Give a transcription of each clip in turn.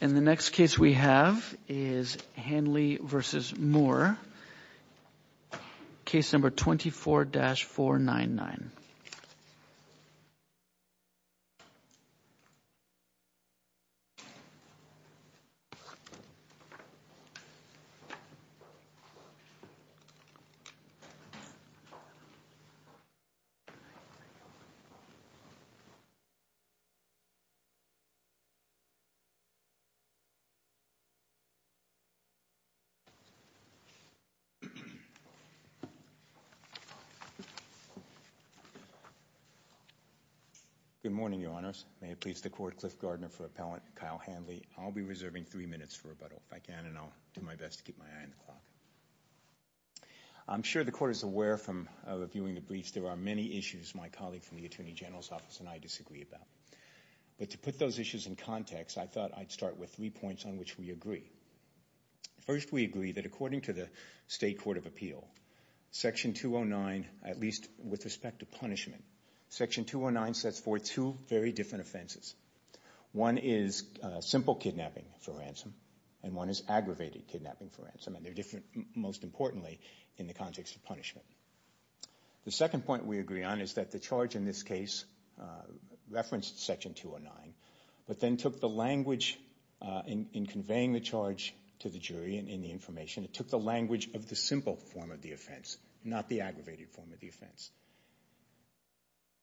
In the next case we have is Handley v. Moore, case number 24-499. Good morning, Your Honors. May it please the Court, Cliff Gardner for Appellant, Kyle Handley. I'll be reserving three minutes for rebuttal, if I can, and I'll do my best to keep my eye on the clock. I'm sure the Court is aware from reviewing the briefs there are many issues my colleague from the Attorney General's Office and I disagree about, but to put those issues in context I thought I'd start with three points on which we agree. First we agree that according to the State Court of Appeal, Section 209, at least with respect to punishment, Section 209 sets forth two very different offenses. One is simple kidnapping for ransom, and one is aggravated kidnapping for ransom, and they're different, most importantly, in the context of punishment. The second point we agree on is that the charge in this case referenced Section 209, but then took the language in conveying the charge to the jury in the information, it took the language of the simple form of the offense, not the aggravated form of the offense.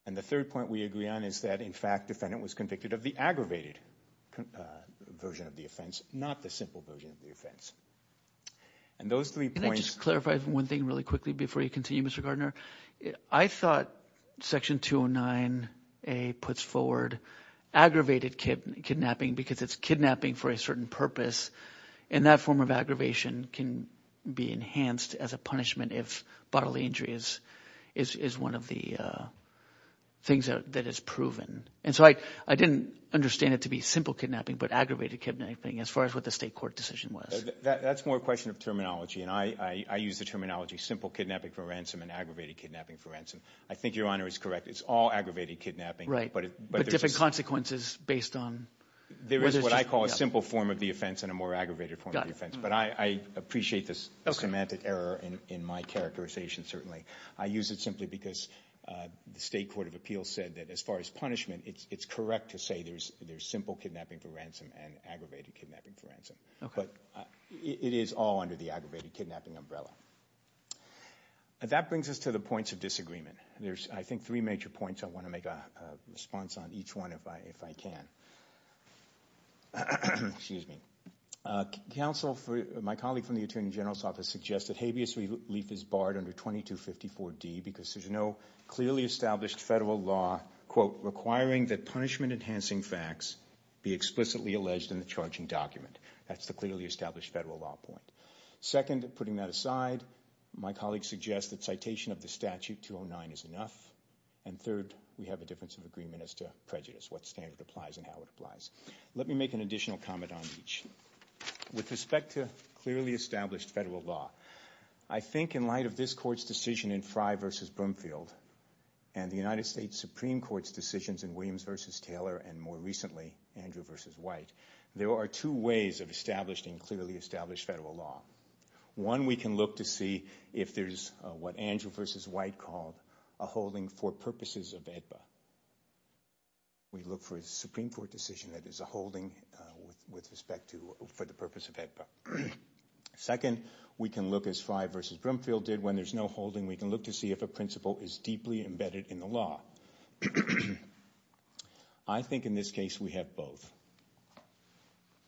And the third point we agree on is that, in fact, the defendant was convicted of the aggravated version of the offense, not the simple version of the offense. And those three points— Let me just clarify one thing really quickly before you continue, Mr. Gardner. I thought Section 209a puts forward aggravated kidnapping because it's kidnapping for a certain purpose, and that form of aggravation can be enhanced as a punishment if bodily injury is one of the things that is proven. And so I didn't understand it to be simple kidnapping, but aggravated kidnapping as far as what the State Court decision was. That's more a question of terminology, and I use the terminology simple kidnapping for ransom and aggravated kidnapping for ransom. I think Your Honor is correct. It's all aggravated kidnapping, but there's— But different consequences based on— There is what I call a simple form of the offense and a more aggravated form of the But I appreciate the semantic error in my characterization, certainly. I use it simply because the State Court of Appeals said that as far as punishment, it's correct to say there's simple kidnapping for ransom and aggravated kidnapping for ransom. Okay. But it is all under the aggravated kidnapping umbrella. That brings us to the points of disagreement. There's I think three major points. I want to make a response on each one if I can. Excuse me. Counsel for—my colleague from the Attorney General's Office suggested habeas relief is barred under 2254d because there's no clearly established federal law, quote, requiring that punishment-enhancing facts be explicitly alleged in the charging document. That's the clearly established federal law point. Second, putting that aside, my colleague suggests that citation of the statute 209 is enough. And third, we have a difference of agreement as to prejudice, what standard applies and how it applies. Let me make an additional comment on each. With respect to clearly established federal law, I think in light of this Court's decision in Frey v. Brumfield and the United States Supreme Court's decisions in Williams v. Taylor and more recently Andrew v. White, there are two ways of established and clearly established federal law. One, we can look to see if there's what Andrew v. White called a holding for purposes of AEDPA. We look for a Supreme Court decision that is a holding with respect to—for the purpose of AEDPA. Second, we can look as Frey v. Brumfield did. And when there's no holding, we can look to see if a principle is deeply embedded in the law. I think in this case we have both.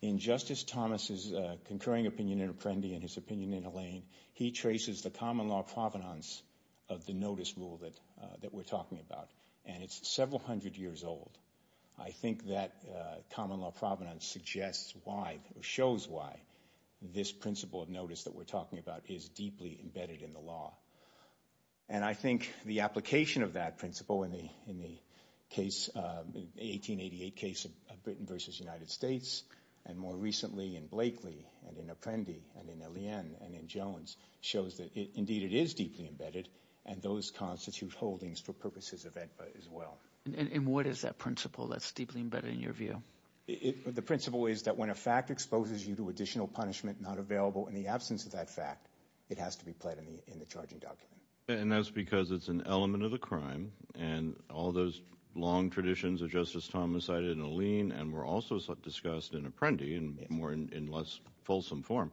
In Justice Thomas' concurring opinion in Apprendi and his opinion in Allain, he traces the common law provenance of the notice rule that we're talking about, and it's several hundred years old. I think that common law provenance suggests why—shows why this principle of notice that we're talking about is deeply embedded in the law. And I think the application of that principle in the case—1888 case of Britain v. United States and more recently in Blakely and in Apprendi and in Allain and in Jones shows that indeed it is deeply embedded and those constitute holdings for purposes of AEDPA as well. And what is that principle that's deeply embedded in your view? The principle is that when a fact exposes you to additional punishment not available in the absence of that fact, it has to be pledged in the charging document. And that's because it's an element of the crime and all those long traditions of Justice Thomas cited in Allain and were also discussed in Apprendi and more in less fulsome form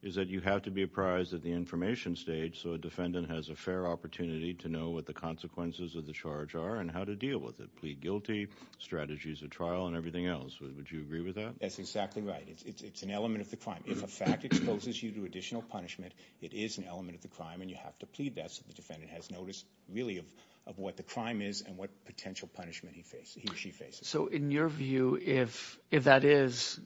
is that you have to be apprised at the information stage so a defendant has a fair opportunity to know what the consequences of the charge are and how to deal with it. Plead guilty, strategies of trial, and everything else. Would you agree with that? That's exactly right. It's an element of the crime. If a fact exposes you to additional punishment, it is an element of the crime and you have to plead that so the defendant has notice really of what the crime is and what potential punishment he or she faces. So in your view, if that is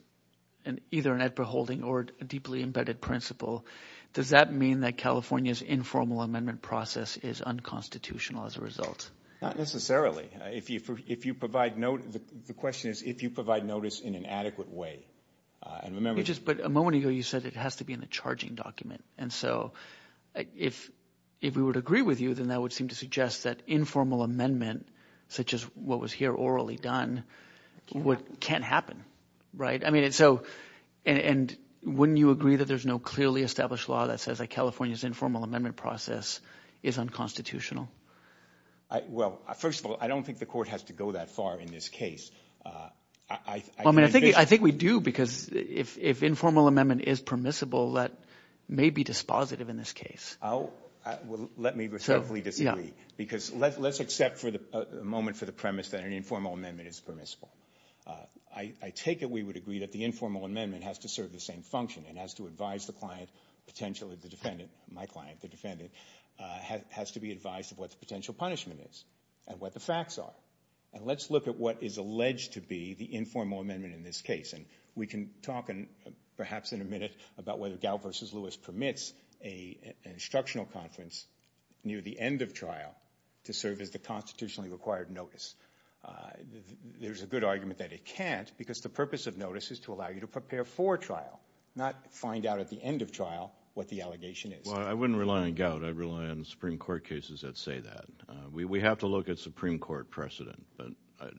either an AEDPA holding or a deeply embedded principle, does that mean that California's informal amendment process is unconstitutional as a result? Not necessarily. The question is if you provide notice in an adequate way. But a moment ago you said it has to be in the charging document and so if we would agree with you then that would seem to suggest that informal amendment, such as what was here orally done, can't happen, right? And wouldn't you agree that there's no clearly established law that says that California's informal amendment process is unconstitutional? Well first of all, I don't think the court has to go that far in this case. I mean, I think we do because if informal amendment is permissible, that may be dispositive in this case. Well, let me respectfully disagree because let's accept for a moment for the premise that an informal amendment is permissible. I take it we would agree that the informal amendment has to serve the same function. It has to advise the client, potentially the defendant, my client, the defendant, has to be advised of what the potential punishment is and what the facts are. Let's look at what is alleged to be the informal amendment in this case and we can talk perhaps in a minute about whether Gout v. Lewis permits an instructional conference near the end of trial to serve as the constitutionally required notice. There's a good argument that it can't because the purpose of notice is to allow you to prepare for trial, not find out at the end of trial what the allegation is. Well, I wouldn't rely on Gout, I'd rely on Supreme Court cases that say that. We have to look at Supreme Court precedent.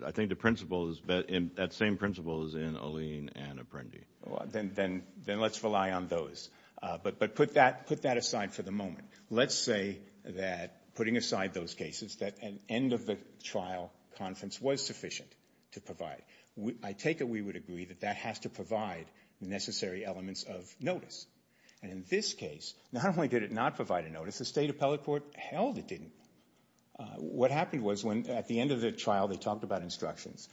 I think the principles, that same principle is in Alene and Apprendi. Then let's rely on those. But put that aside for the moment. Let's say that putting aside those cases, that an end of the trial conference was sufficient to provide. I take it we would agree that that has to provide necessary elements of notice and in this case not only did it not provide a notice, the state appellate court held it didn't. What happened was when at the end of the trial they talked about instructions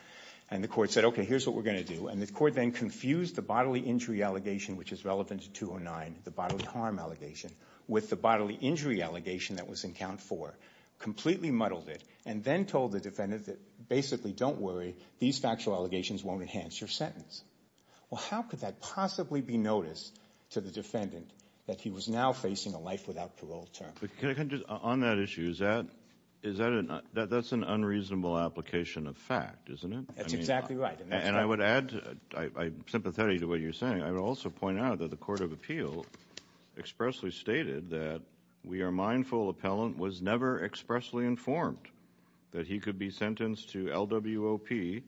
and the court said, okay, here's what we're going to do and the court then confused the bodily injury allegation which is relevant to 209, the bodily harm allegation, with the bodily injury allegation that was in count four, completely muddled it and then told the defendant that basically don't worry, these factual allegations won't enhance your sentence. How could that possibly be noticed to the defendant that he was now facing a life without parole term? On that issue, that's an unreasonable application of fact, isn't it? That's exactly right. And I would add, I'm sympathetic to what you're saying, I would also point out that the Court of Appeal expressly stated that we are mindful appellant was never expressly informed that he could be sentenced to LWOP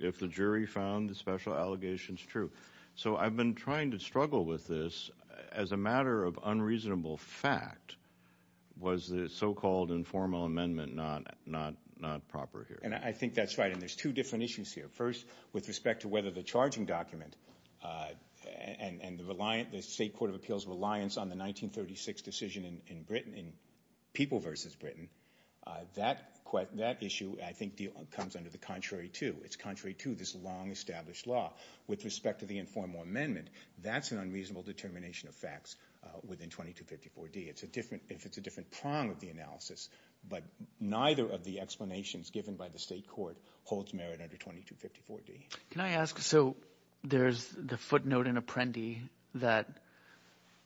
if the jury found the special allegations true. So I've been trying to struggle with this as a matter of unreasonable fact. Was the so-called informal amendment not proper here? And I think that's right and there's two different issues here. First, with respect to whether the charging document and the state Court of Appeal's reliance on the 1936 decision in Britain, in People v. Britain, that issue I think comes under the contrary two. It's contrary to this long-established law. With respect to the informal amendment, that's an unreasonable determination of facts within 2254D. It's a different prong of the analysis, but neither of the explanations given by the state court holds merit under 2254D. Can I ask, so there's the footnote in Apprendi that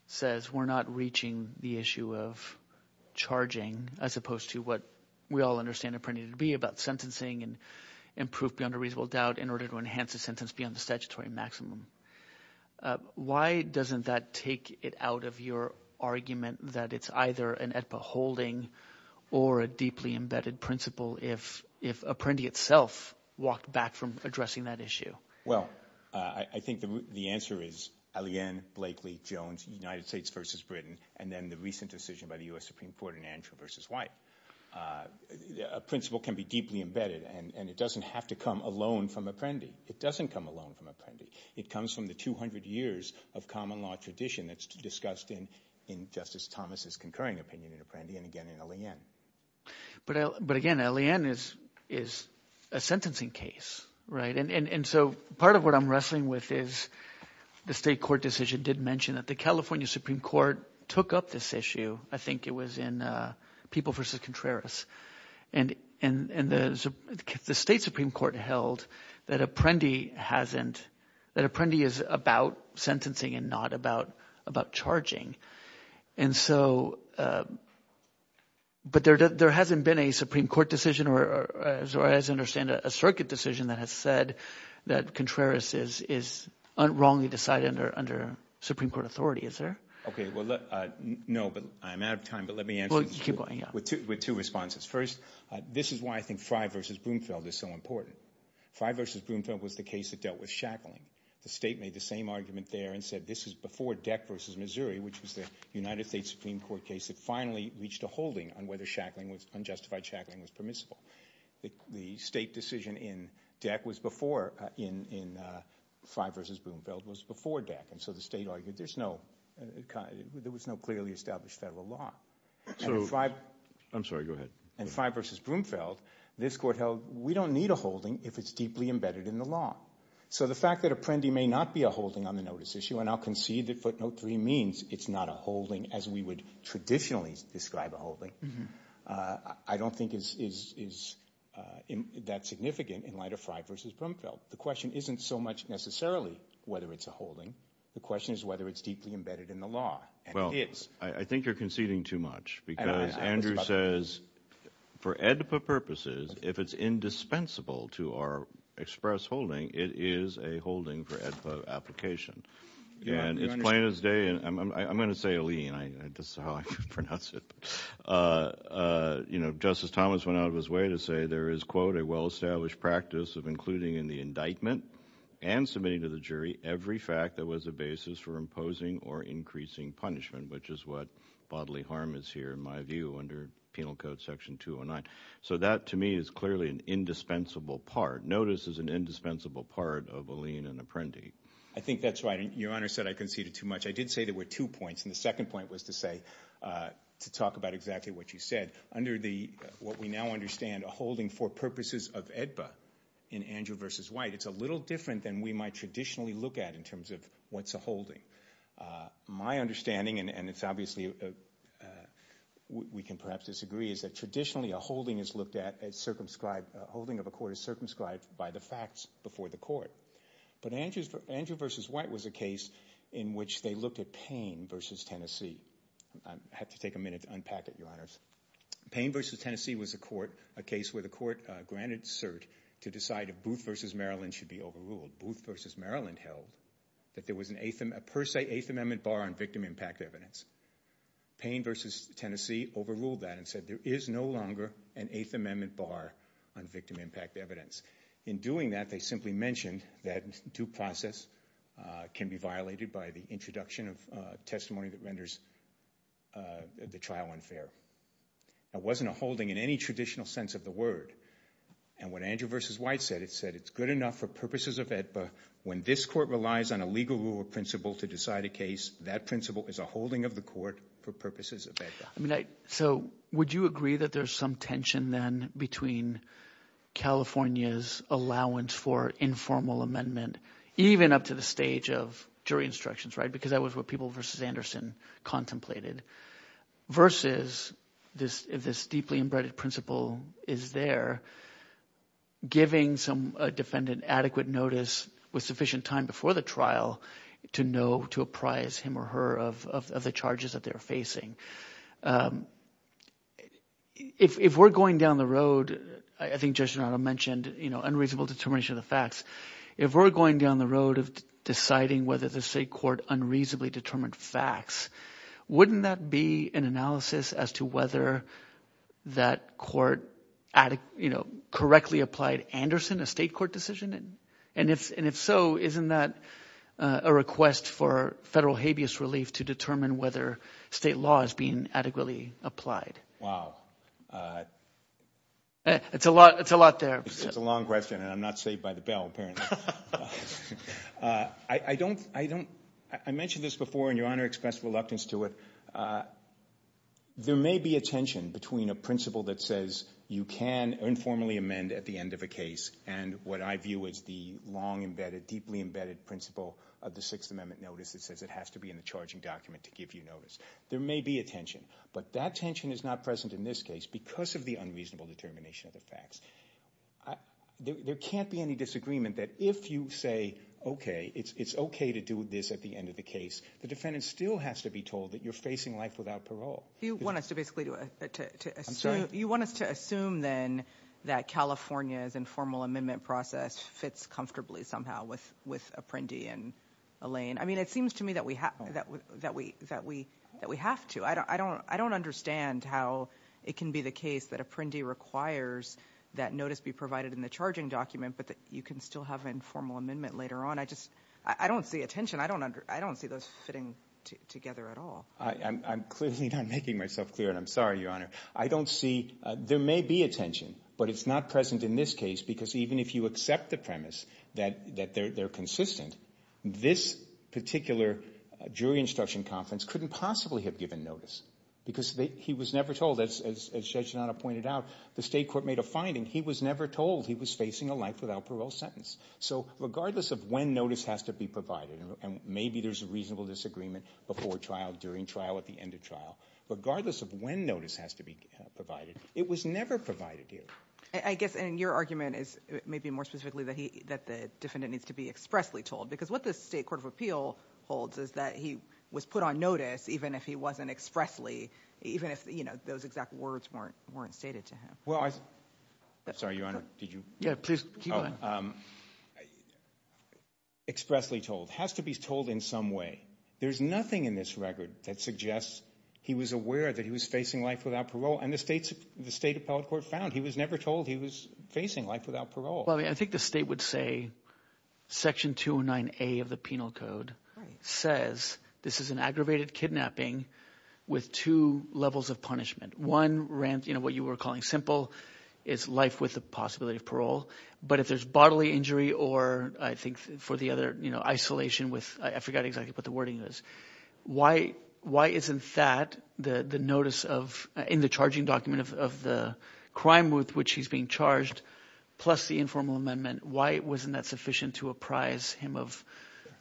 says we're not reaching the issue of charging as opposed to what we all understand Apprendi to be about sentencing and proof beyond a reasonable doubt in order to enhance the sentence beyond the statutory maximum. Why doesn't that take it out of your argument that it's either an AEDPA holding or a deeply embedded issue? Well, I think the answer is L.A.N., Blakely, Jones, United States v. Britain, and then the recent decision by the U.S. Supreme Court in Andrew v. White. A principle can be deeply embedded and it doesn't have to come alone from Apprendi. It doesn't come alone from Apprendi. It comes from the 200 years of common law tradition that's discussed in Justice Thomas's concurring opinion in Apprendi and again in L.A.N. But again, L.A.N. is a sentencing case, right? And so part of what I'm wrestling with is the state court decision did mention that the California Supreme Court took up this issue. I think it was in People v. Contreras and the state Supreme Court held that Apprendi hasn't, that Apprendi is about sentencing and not about charging. And so – but there hasn't been a Supreme Court decision or, as far as I understand, a circuit decision that has said that Contreras is wrongly decided under Supreme Court authority, is there? OK. Well, no, but I'm out of time. But let me answer – Well, keep going, yeah. With two responses. First, this is why I think Frye v. Broomfield is so important. Frye v. Broomfield was the case that dealt with shackling. The state made the same argument there and said this is before Deck v. Missouri, which was the United States Supreme Court case that finally reached a holding on whether shackling was – unjustified shackling was permissible. The state decision in Deck was before – in Frye v. Broomfield was before Deck. And so the state argued there's no – there was no clearly established federal law. So – And Frye – I'm sorry, go ahead. And Frye v. Broomfield, this court held we don't need a holding if it's deeply embedded in the law. So the fact that a prende may not be a holding on the notice issue – and I'll concede that footnote three means it's not a holding as we would traditionally describe a holding – I don't think is that significant in light of Frye v. Broomfield. The question isn't so much necessarily whether it's a holding. The question is whether it's deeply embedded in the law. And it is. Well, I think you're conceding too much because Andrew says for AEDPA purposes, if it's indispensable to our express holding, it is a holding for AEDPA application. And it's plain as day – and I'm going to say a lien, this is how I pronounce it. You know, Justice Thomas went out of his way to say there is, quote, a well-established practice of including in the indictment and submitting to the jury every fact that was a basis for imposing or increasing punishment, which is what bodily harm is here in my view under Penal Code Section 209. So that, to me, is clearly an indispensable part. Notice is an indispensable part of a lien and apprendi. I think that's right. Your Honor said I conceded too much. I did say there were two points, and the second point was to say – to talk about exactly what you said. Under the – what we now understand a holding for purposes of AEDPA in Andrew v. White, it's a little different than we might traditionally look at in terms of what's a holding. My understanding – and it's obviously – we can perhaps disagree – is that traditionally a holding is looked at as circumscribed – a holding of a court is circumscribed by the facts before the court. But Andrew v. White was a case in which they looked at Payne v. Tennessee. I have to take a minute to unpack it, Your Honors. Payne v. Tennessee was a court – a case where the court granted cert to decide if Booth v. Maryland should be overruled. Booth v. Maryland held that there was a per se Eighth Amendment bar on victim impact evidence. Payne v. Tennessee overruled that and said there is no longer an Eighth Amendment bar on victim impact evidence. In doing that, they simply mentioned that due process can be violated by the introduction of testimony that renders the trial unfair. It wasn't a holding in any traditional sense of the word. And what Andrew v. White said, it said it's good enough for purposes of AEDPA when this court relies on a legal rule or principle to decide a case, that principle is a holding of the court for purposes of AEDPA. So would you agree that there's some tension then between California's allowance for informal amendment, even up to the stage of jury instructions, right, because that was what people v. Anderson contemplated, versus this deeply embedded principle is there giving some defendant adequate notice with sufficient time before the trial to know to apprise him or her of the charges that they're facing. If we're going down the road, I think Judge Donato mentioned, you know, unreasonable determination of the facts, if we're going down the road of deciding whether the state court unreasonably determined facts, wouldn't that be an analysis as to whether that court, you know, correctly applied Anderson, a state court decision? And if so, isn't that a request for federal habeas relief to determine whether state law is being adequately applied? It's a lot there. It's a long question, and I'm not saved by the bell, apparently. I mentioned this before, and Your Honor expressed reluctance to it. There may be a tension between a principle that says you can informally amend at the end of the case, and what I view as the long embedded, deeply embedded principle of the Sixth Amendment notice that says it has to be in the charging document to give you notice. There may be a tension, but that tension is not present in this case because of the unreasonable determination of the facts. There can't be any disagreement that if you say, okay, it's okay to do this at the end of the case, the defendant still has to be told that you're facing life without parole. You want us to basically do a, to assume, you want us to assume then that California's informal amendment process fits comfortably somehow with Apprendi and Elaine. I mean, it seems to me that we have to. I don't understand how it can be the case that Apprendi requires that notice be provided in the charging document, but that you can still have an informal amendment later on. I just, I don't see a tension. I don't see those fitting together at all. I'm clearly not making myself clear, and I'm sorry, Your Honor. I don't see, there may be a tension, but it's not present in this case because even if you accept the premise that they're consistent, this particular jury instruction conference couldn't possibly have given notice because he was never told, as Judge Donato pointed out, the state court made a finding. He was never told he was facing a life without parole sentence. So regardless of when notice has to be provided, and maybe there's a reasonable disagreement before trial, during trial, at the end of trial, regardless of when notice has to be provided, it was never provided here. I guess, and your argument is maybe more specifically that the defendant needs to be expressly told because what the state court of appeal holds is that he was put on notice even if he wasn't expressly, even if, you know, those exact words weren't stated to him. Well, I, I'm sorry, Your Honor, did you? Yeah, please, keep going. Expressly told. Has to be told in some way. There's nothing in this record that suggests he was aware that he was facing life without parole and the state's, the state appellate court found he was never told he was facing life without parole. Well, I mean, I think the state would say Section 209A of the Penal Code says this is an aggravated kidnapping with two levels of punishment. One ran, you know, what you were calling simple, is life with the possibility of parole. But if there's bodily injury or I think for the other, you know, isolation with, I forgot exactly what the wording is, why, why isn't that the, the notice of, in the charging document of, of the crime with which he's being charged plus the informal amendment, why wasn't that sufficient to apprise him of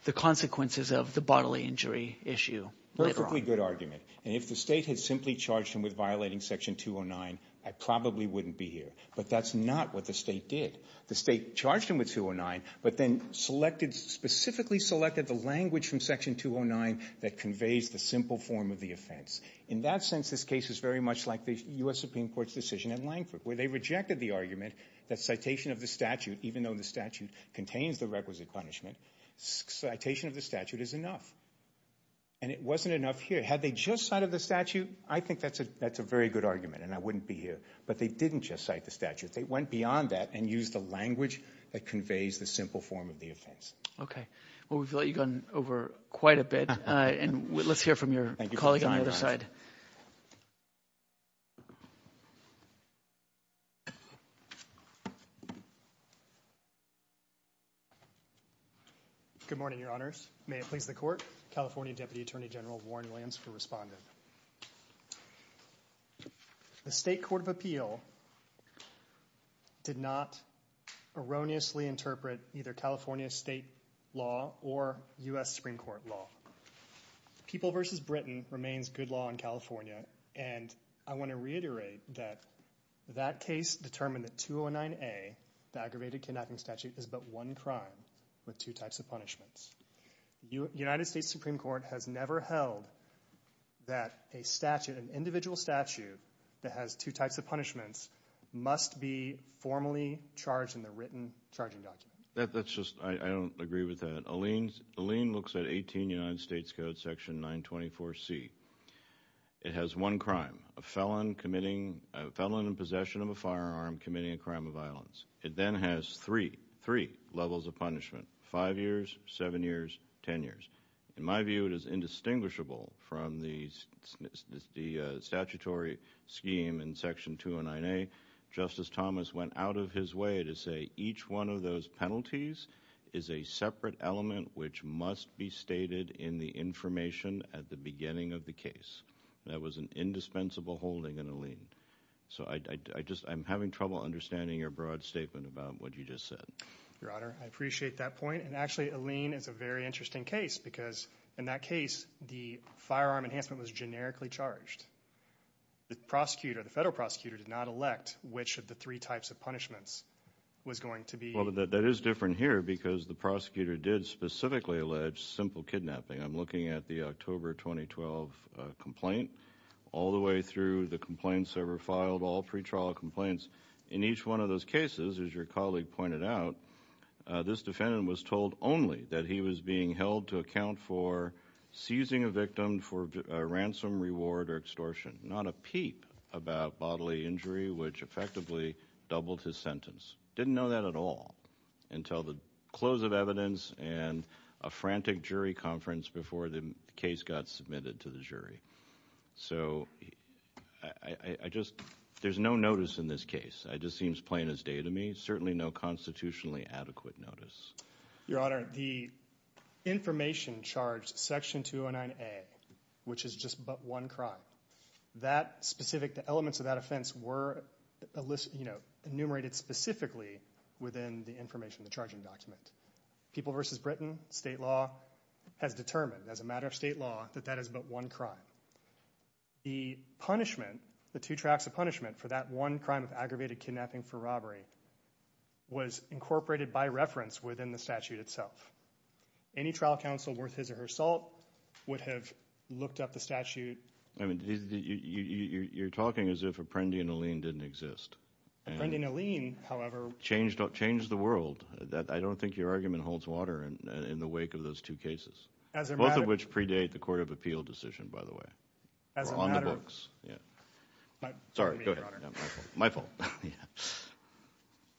the consequences of the bodily injury issue later on? Perfectly good argument. And if the state had simply charged him with violating Section 209, I probably wouldn't be here. But that's not what the state did. The state charged him with 209, but then selected, specifically selected the language from Section 209 that conveys the simple form of the offense. In that sense, this case is very much like the U.S. Supreme Court's decision in Langford, where they rejected the argument that citation of the statute, even though the statute contains the requisite punishment, citation of the statute is enough. And it wasn't enough here. Had they just cited the statute, I think that's a, that's a very good argument and I wouldn't be here. But they didn't just cite the statute. They went beyond that and used the language that conveys the simple form of the offense. Okay. Well, we've let you go on over quite a bit. And let's hear from your colleague on the other side. Good morning, Your Honors. May it please the Court, California Deputy Attorney General Warren Williams for responding. The State Court of Appeal did not erroneously interpret either California state law or U.S. Supreme Court law. People versus Britain remains good law in California. And I want to reiterate that that case determined that 209A, the aggravated kidnapping statute, is but one crime with two types of punishments. The United States Supreme Court has never held that a statute, an individual statute that has two types of punishments must be formally charged in the written charging document. That's just, I don't agree with that. Alene looks at 18 United States Code section 924C. It has one crime, a felon committing, a felon in possession of a firearm committing a crime of violence. It then has three, three levels of punishment, five years, seven years, ten years. In my view, it is indistinguishable from the statutory scheme in section 209A. Justice Thomas went out of his way to say each one of those penalties is a separate element which must be stated in the information at the beginning of the case. That was an indispensable holding in Alene. So I'm having trouble understanding your broad statement about what you just said. Your Honor, I appreciate that point. And actually, Alene, it's a very interesting case because in that case, the firearm enhancement was generically charged. The prosecutor, the federal prosecutor, did not elect which of the three types of punishments was going to be... Well, that is different here because the prosecutor did specifically allege simple kidnapping. I'm looking at the October 2012 complaint all the way through the complaints that were filed, all pretrial complaints. In each one of those cases, as your colleague pointed out, this defendant was told only that he was being held to account for seizing a victim for ransom, reward, or extortion, not a peep about bodily injury which effectively doubled his sentence. Didn't know that at all until the close of evidence and a frantic jury conference before the case got submitted to the jury. So I just... There's no notice in this case. It just seems plain as day to me. Certainly no constitutionally adequate notice. Your Honor, the information charged, Section 209A, which is just but one crime, that specific, the elements of that offense were enumerated specifically within the information, the charging document. People v. Britain, state law, has determined as a matter of state law that that is but one crime. The punishment, the two tracks of punishment for that one crime of aggravated kidnapping for robbery was incorporated by reference within the statute itself. Any trial counsel worth his or her salt would have looked up the statute... I mean, you're talking as if Apprendi and Alleen didn't exist. Apprendi and Alleen, however... Changed the world. I don't think your argument holds water in the wake of those two cases. As a matter of... Both of which predate the Court of Appeal decision, by the way. As a matter of... Or on the books, yeah. Sorry, go ahead. My fault.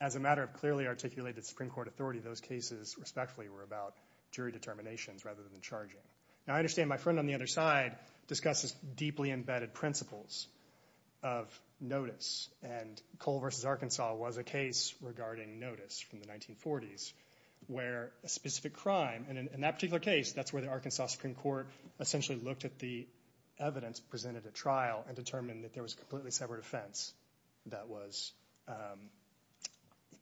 As a matter of clearly articulated Supreme Court authority, those cases, respectfully, were about jury determinations rather than charging. Now, I understand my friend on the other side discusses deeply embedded principles of notice. And Cole v. Arkansas was a case regarding notice from the 1940s where a specific crime, and in that particular case, that's where the Arkansas Supreme Court essentially looked at the evidence presented at trial and determined that there was a completely separate offense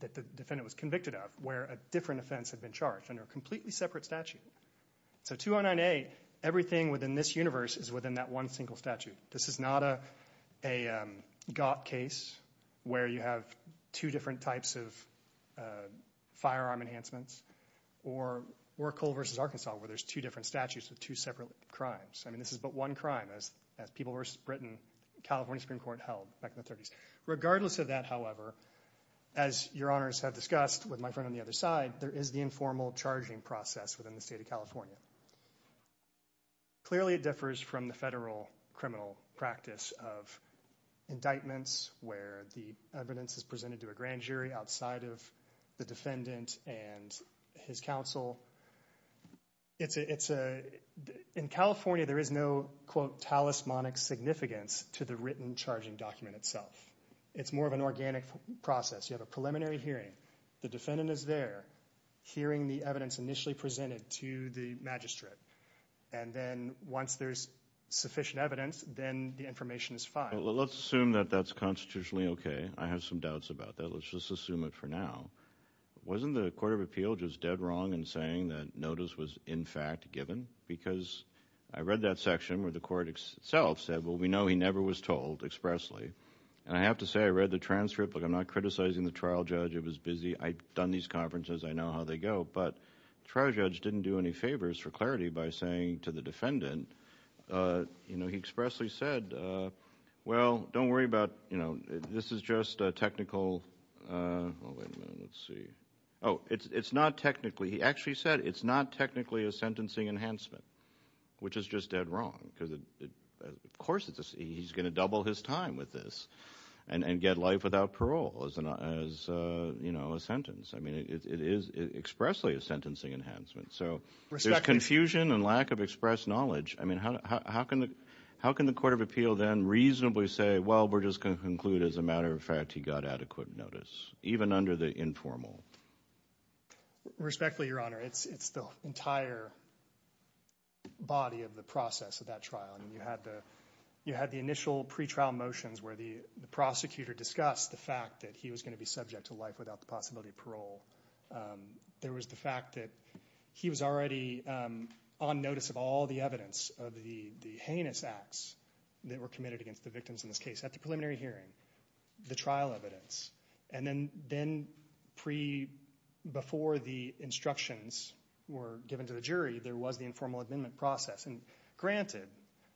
that the defendant was convicted of where a different offense had been charged under a completely separate statute. So 209A, everything within this universe is within that one single statute. This is not a Gopp case where you have two different types of firearm enhancements or Cole v. Arkansas where there's two different statutes with two separate crimes. I mean, this is but one crime. As People v. Britain, California Supreme Court held back in the 30s. Regardless of that, however, as Your Honors have discussed with my friend on the other side, there is the informal charging process within the state of California. Clearly, it differs from the federal criminal practice of indictments where the evidence is presented to a grand jury outside of the defendant and his counsel. In California, there is no, quote, talismanic significance to the written charging document itself. It's more of an organic process. You have a preliminary hearing. The defendant is there hearing the evidence initially presented to the magistrate. And then once there's sufficient evidence, then the information is filed. Well, let's assume that that's constitutionally okay. I have some doubts about that. Let's just assume it for now. Wasn't the Court of Appeal just dead wrong in saying that notice was, in fact, given? Because I read that section where the court itself said, well, we know he never was told expressly. And I have to say, I read the transcript. Look, I'm not criticizing the trial judge. It was busy. I've done these conferences. I know how they go. But the trial judge didn't do any favors for clarity by saying to the defendant, you know, he expressly said, well, don't worry about, you know, this is just technical. Oh, wait a minute. Let's see. Oh, it's not technically. He actually said it's not technically a sentencing enhancement, which is just dead wrong. Of course he's going to double his time with this and get life without parole as, you know, a sentence. I mean, it is expressly a sentencing enhancement. So there's confusion and lack of express knowledge. I mean, how can the court of appeal then reasonably say, well, we're just going to conclude as a matter of fact he got adequate notice, even under the informal? Respectfully, Your Honor, it's the entire body of the process of that trial. I mean, you had the initial pretrial motions where the prosecutor discussed the fact that he was going to be subject to life without the possibility of parole. There was the fact that he was already on notice of all the evidence of the heinous acts that were committed against the victims in this case at the preliminary hearing, the trial evidence. And then before the instructions were given to the jury, there was the informal amendment process. And granted,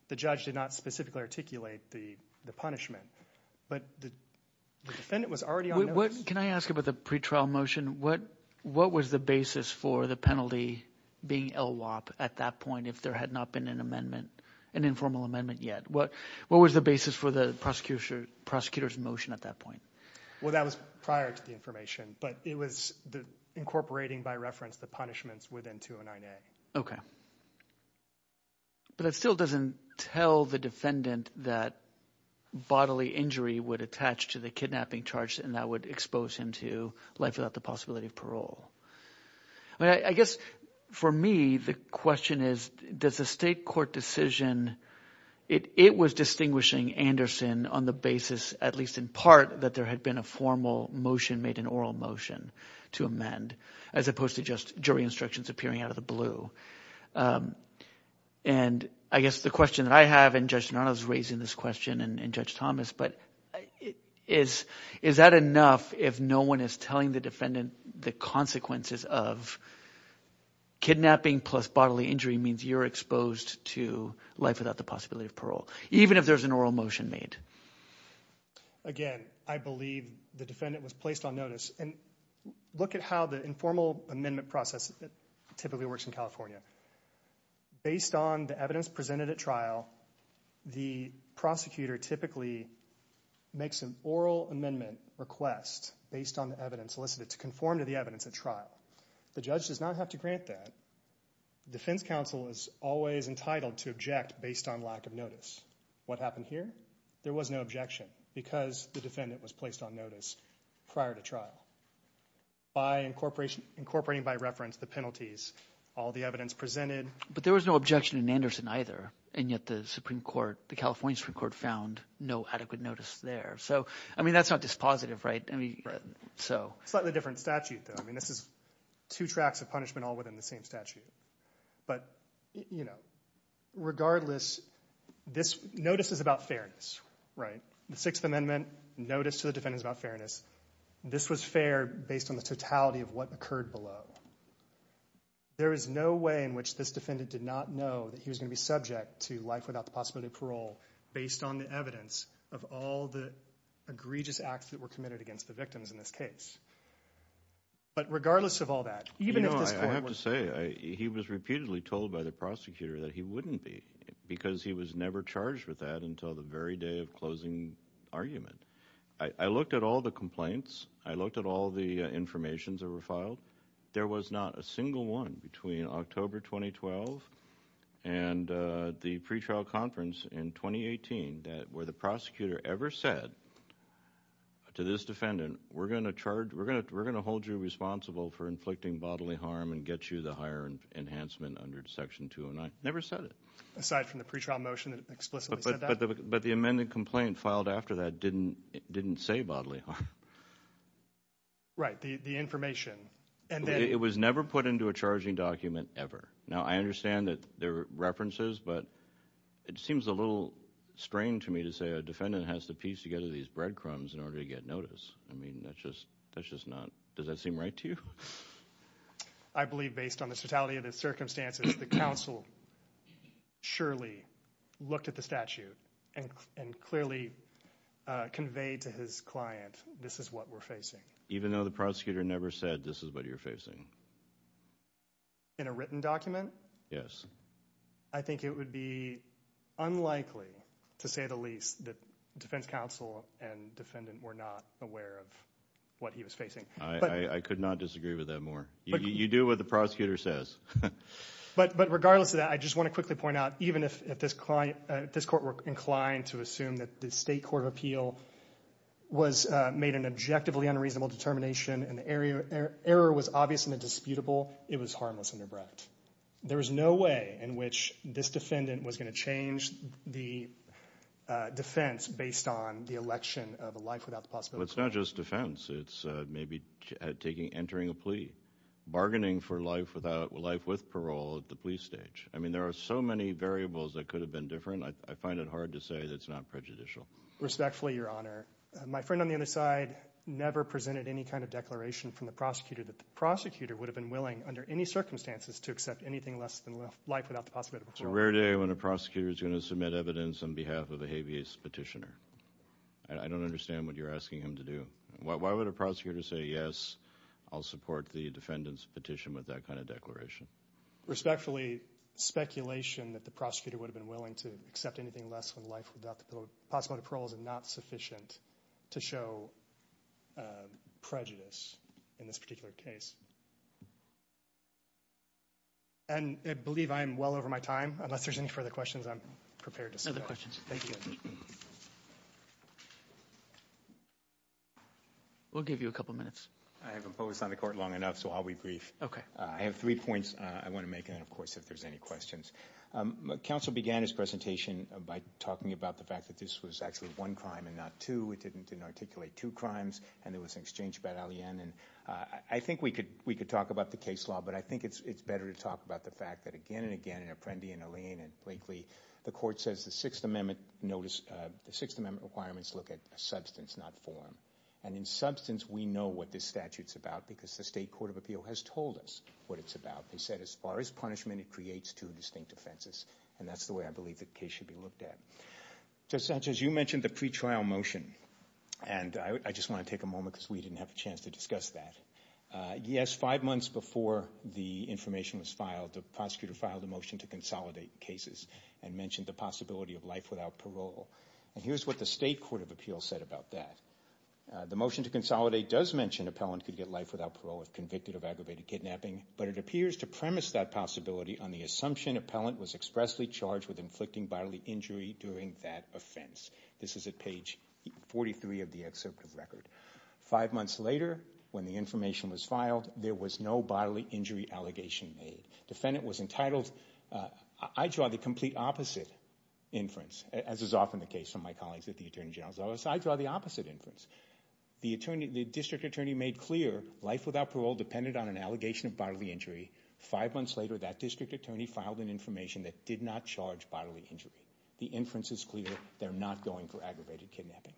the judge did not specifically articulate the punishment, but the defendant was already on notice. Can I ask about the pretrial motion? What was the basis for the penalty being LWOP at that point if there had not been an amendment, an informal amendment yet? What was the basis for the prosecutor's motion at that point? Well, that was prior to the information, but it was incorporating by reference the punishments within 209A. Okay. But it still doesn't tell the defendant that bodily injury would attach to the kidnapping charge and that would expose him to life without the possibility of parole. I guess for me the question is, does the state court decision – it was distinguishing Anderson on the basis, at least in part, that there had been a formal motion made, an oral motion to amend as opposed to just jury instructions appearing out of the blue. And I guess the question that I have, and Judge Donato is raising this question and Judge Thomas, but is that enough if no one is telling the defendant the consequences of kidnapping plus bodily injury means you're exposed to life without the possibility of parole, even if there's an oral motion made? Again, I believe the defendant was placed on notice. And look at how the informal amendment process typically works in California. Based on the evidence presented at trial, the prosecutor typically makes an oral amendment request based on the evidence solicited to conform to the evidence at trial. The judge does not have to grant that. Defense counsel is always entitled to object based on lack of notice. What happened here? There was no objection because the defendant was placed on notice prior to trial. By incorporating by reference the penalties, all the evidence presented – But there was no objection in Anderson either, and yet the Supreme Court, the California Supreme Court found no adequate notice there. So I mean that's not dispositive, right? So – Slightly different statute though. I mean this is two tracks of punishment all within the same statute. But regardless, notice is about fairness, right? The Sixth Amendment, notice to the defendant is about fairness. This was fair based on the totality of what occurred below. There is no way in which this defendant did not know that he was going to be subject to life without the possibility of parole based on the evidence of all the egregious acts that were committed against the victims in this case. But regardless of all that, even if this court was – He was repeatedly told by the prosecutor that he wouldn't be because he was never charged with that until the very day of closing argument. I looked at all the complaints. I looked at all the information that were filed. There was not a single one between October 2012 and the pretrial conference in 2018 that where the prosecutor ever said to this defendant, we're going to charge – we're going to hold you responsible for inflicting bodily harm and get you the higher enhancement under section 209. Never said it. Aside from the pretrial motion that explicitly said that? But the amended complaint filed after that didn't say bodily harm. Right, the information. It was never put into a charging document ever. Now I understand that there are references, but it seems a little strange to me to say a defendant has to piece together these breadcrumbs in order to get notice. I mean that's just not – does that seem right to you? I believe based on the totality of the circumstances, the counsel surely looked at the statute and clearly conveyed to his client this is what we're facing. Even though the prosecutor never said this is what you're facing? In a written document? Yes. I think it would be unlikely to say the least that defense counsel and defendant were not aware of what he was facing. I could not disagree with that more. You do what the prosecutor says. But regardless of that, I just want to quickly point out even if this court were inclined to assume that the State Court of Appeal made an objectively unreasonable determination and the error was obvious and indisputable, it was harmless and abrupt. There was no way in which this defendant was going to change the defense based on the election of a life without the possibility of parole. It's not just defense. It's maybe entering a plea. Bargaining for life with parole at the plea stage. I mean there are so many variables that could have been different. I find it hard to say that it's not prejudicial. Respectfully, Your Honor, my friend on the other side never presented any kind of declaration from the prosecutor that the prosecutor would have been willing under any circumstances to accept anything less than life without the possibility of parole. It's a rare day when a prosecutor is going to submit evidence on behalf of a habeas petitioner. I don't understand what you're asking him to do. Why would a prosecutor say, yes, I'll support the defendant's petition with that kind of declaration? Respectfully, speculation that the prosecutor would have been willing to accept anything less than life without the possibility of parole is not sufficient to show prejudice in this particular case. And I believe I am well over my time. Unless there's any further questions, I'm prepared to stop. No other questions. Thank you, Your Honor. We'll give you a couple minutes. I haven't focused on the court long enough, so I'll be brief. Okay. I have three points I want to make and, of course, if there's any questions. Counsel began his presentation by talking about the fact that this was actually one crime and not two. It didn't articulate two crimes, and there was an exchange about Alleyne. And I think we could talk about the case law, but I think it's better to talk about the fact that, again and again, Apprendi and Alleyne and Blakely, the court says the Sixth Amendment requirements look at substance, not form. And in substance, we know what this statute's about because the state court of appeal has told us what it's about. They said as far as punishment, it creates two distinct offenses, and that's the way I believe the case should be looked at. Judge Sanchez, you mentioned the pretrial motion. And I just want to take a moment because we didn't have a chance to discuss that. Yes, five months before the information was filed, the prosecutor filed a motion to consolidate cases and mentioned the possibility of life without parole. And here's what the state court of appeal said about that. The motion to consolidate does mention appellant could get life without parole if convicted of aggravated kidnapping, but it appears to premise that possibility on the assumption appellant was expressly charged with inflicting bodily injury during that offense. This is at page 43 of the excerpt of the record. Five months later, when the information was filed, there was no bodily injury allegation made. Defendant was entitled. I draw the complete opposite inference, as is often the case with my colleagues at the Attorney General's Office. I draw the opposite inference. The district attorney made clear life without parole depended on an allegation of bodily injury. Five months later, that district attorney filed an information that did not charge bodily injury. The inference is clear. They're not going for aggravated kidnapping.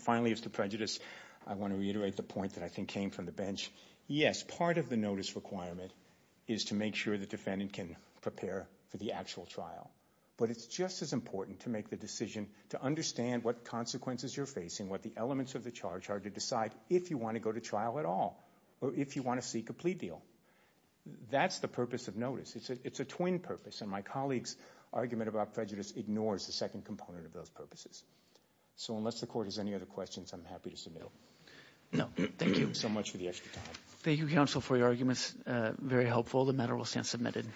Finally, as to prejudice, I want to reiterate the point that I think came from the bench. Yes, part of the notice requirement is to make sure the defendant can prepare for the actual trial, but it's just as important to make the decision to understand what consequences you're facing, what the elements of the charge are, to decide if you want to go to trial at all or if you want to seek a plea deal. That's the purpose of notice. It's a twin purpose, and my colleague's argument about prejudice ignores the second component of those purposes. So unless the court has any other questions, I'm happy to submit them. No, thank you. So much for the extra time. Thank you, counsel, for your arguments. Very helpful. The matter will stand submitted.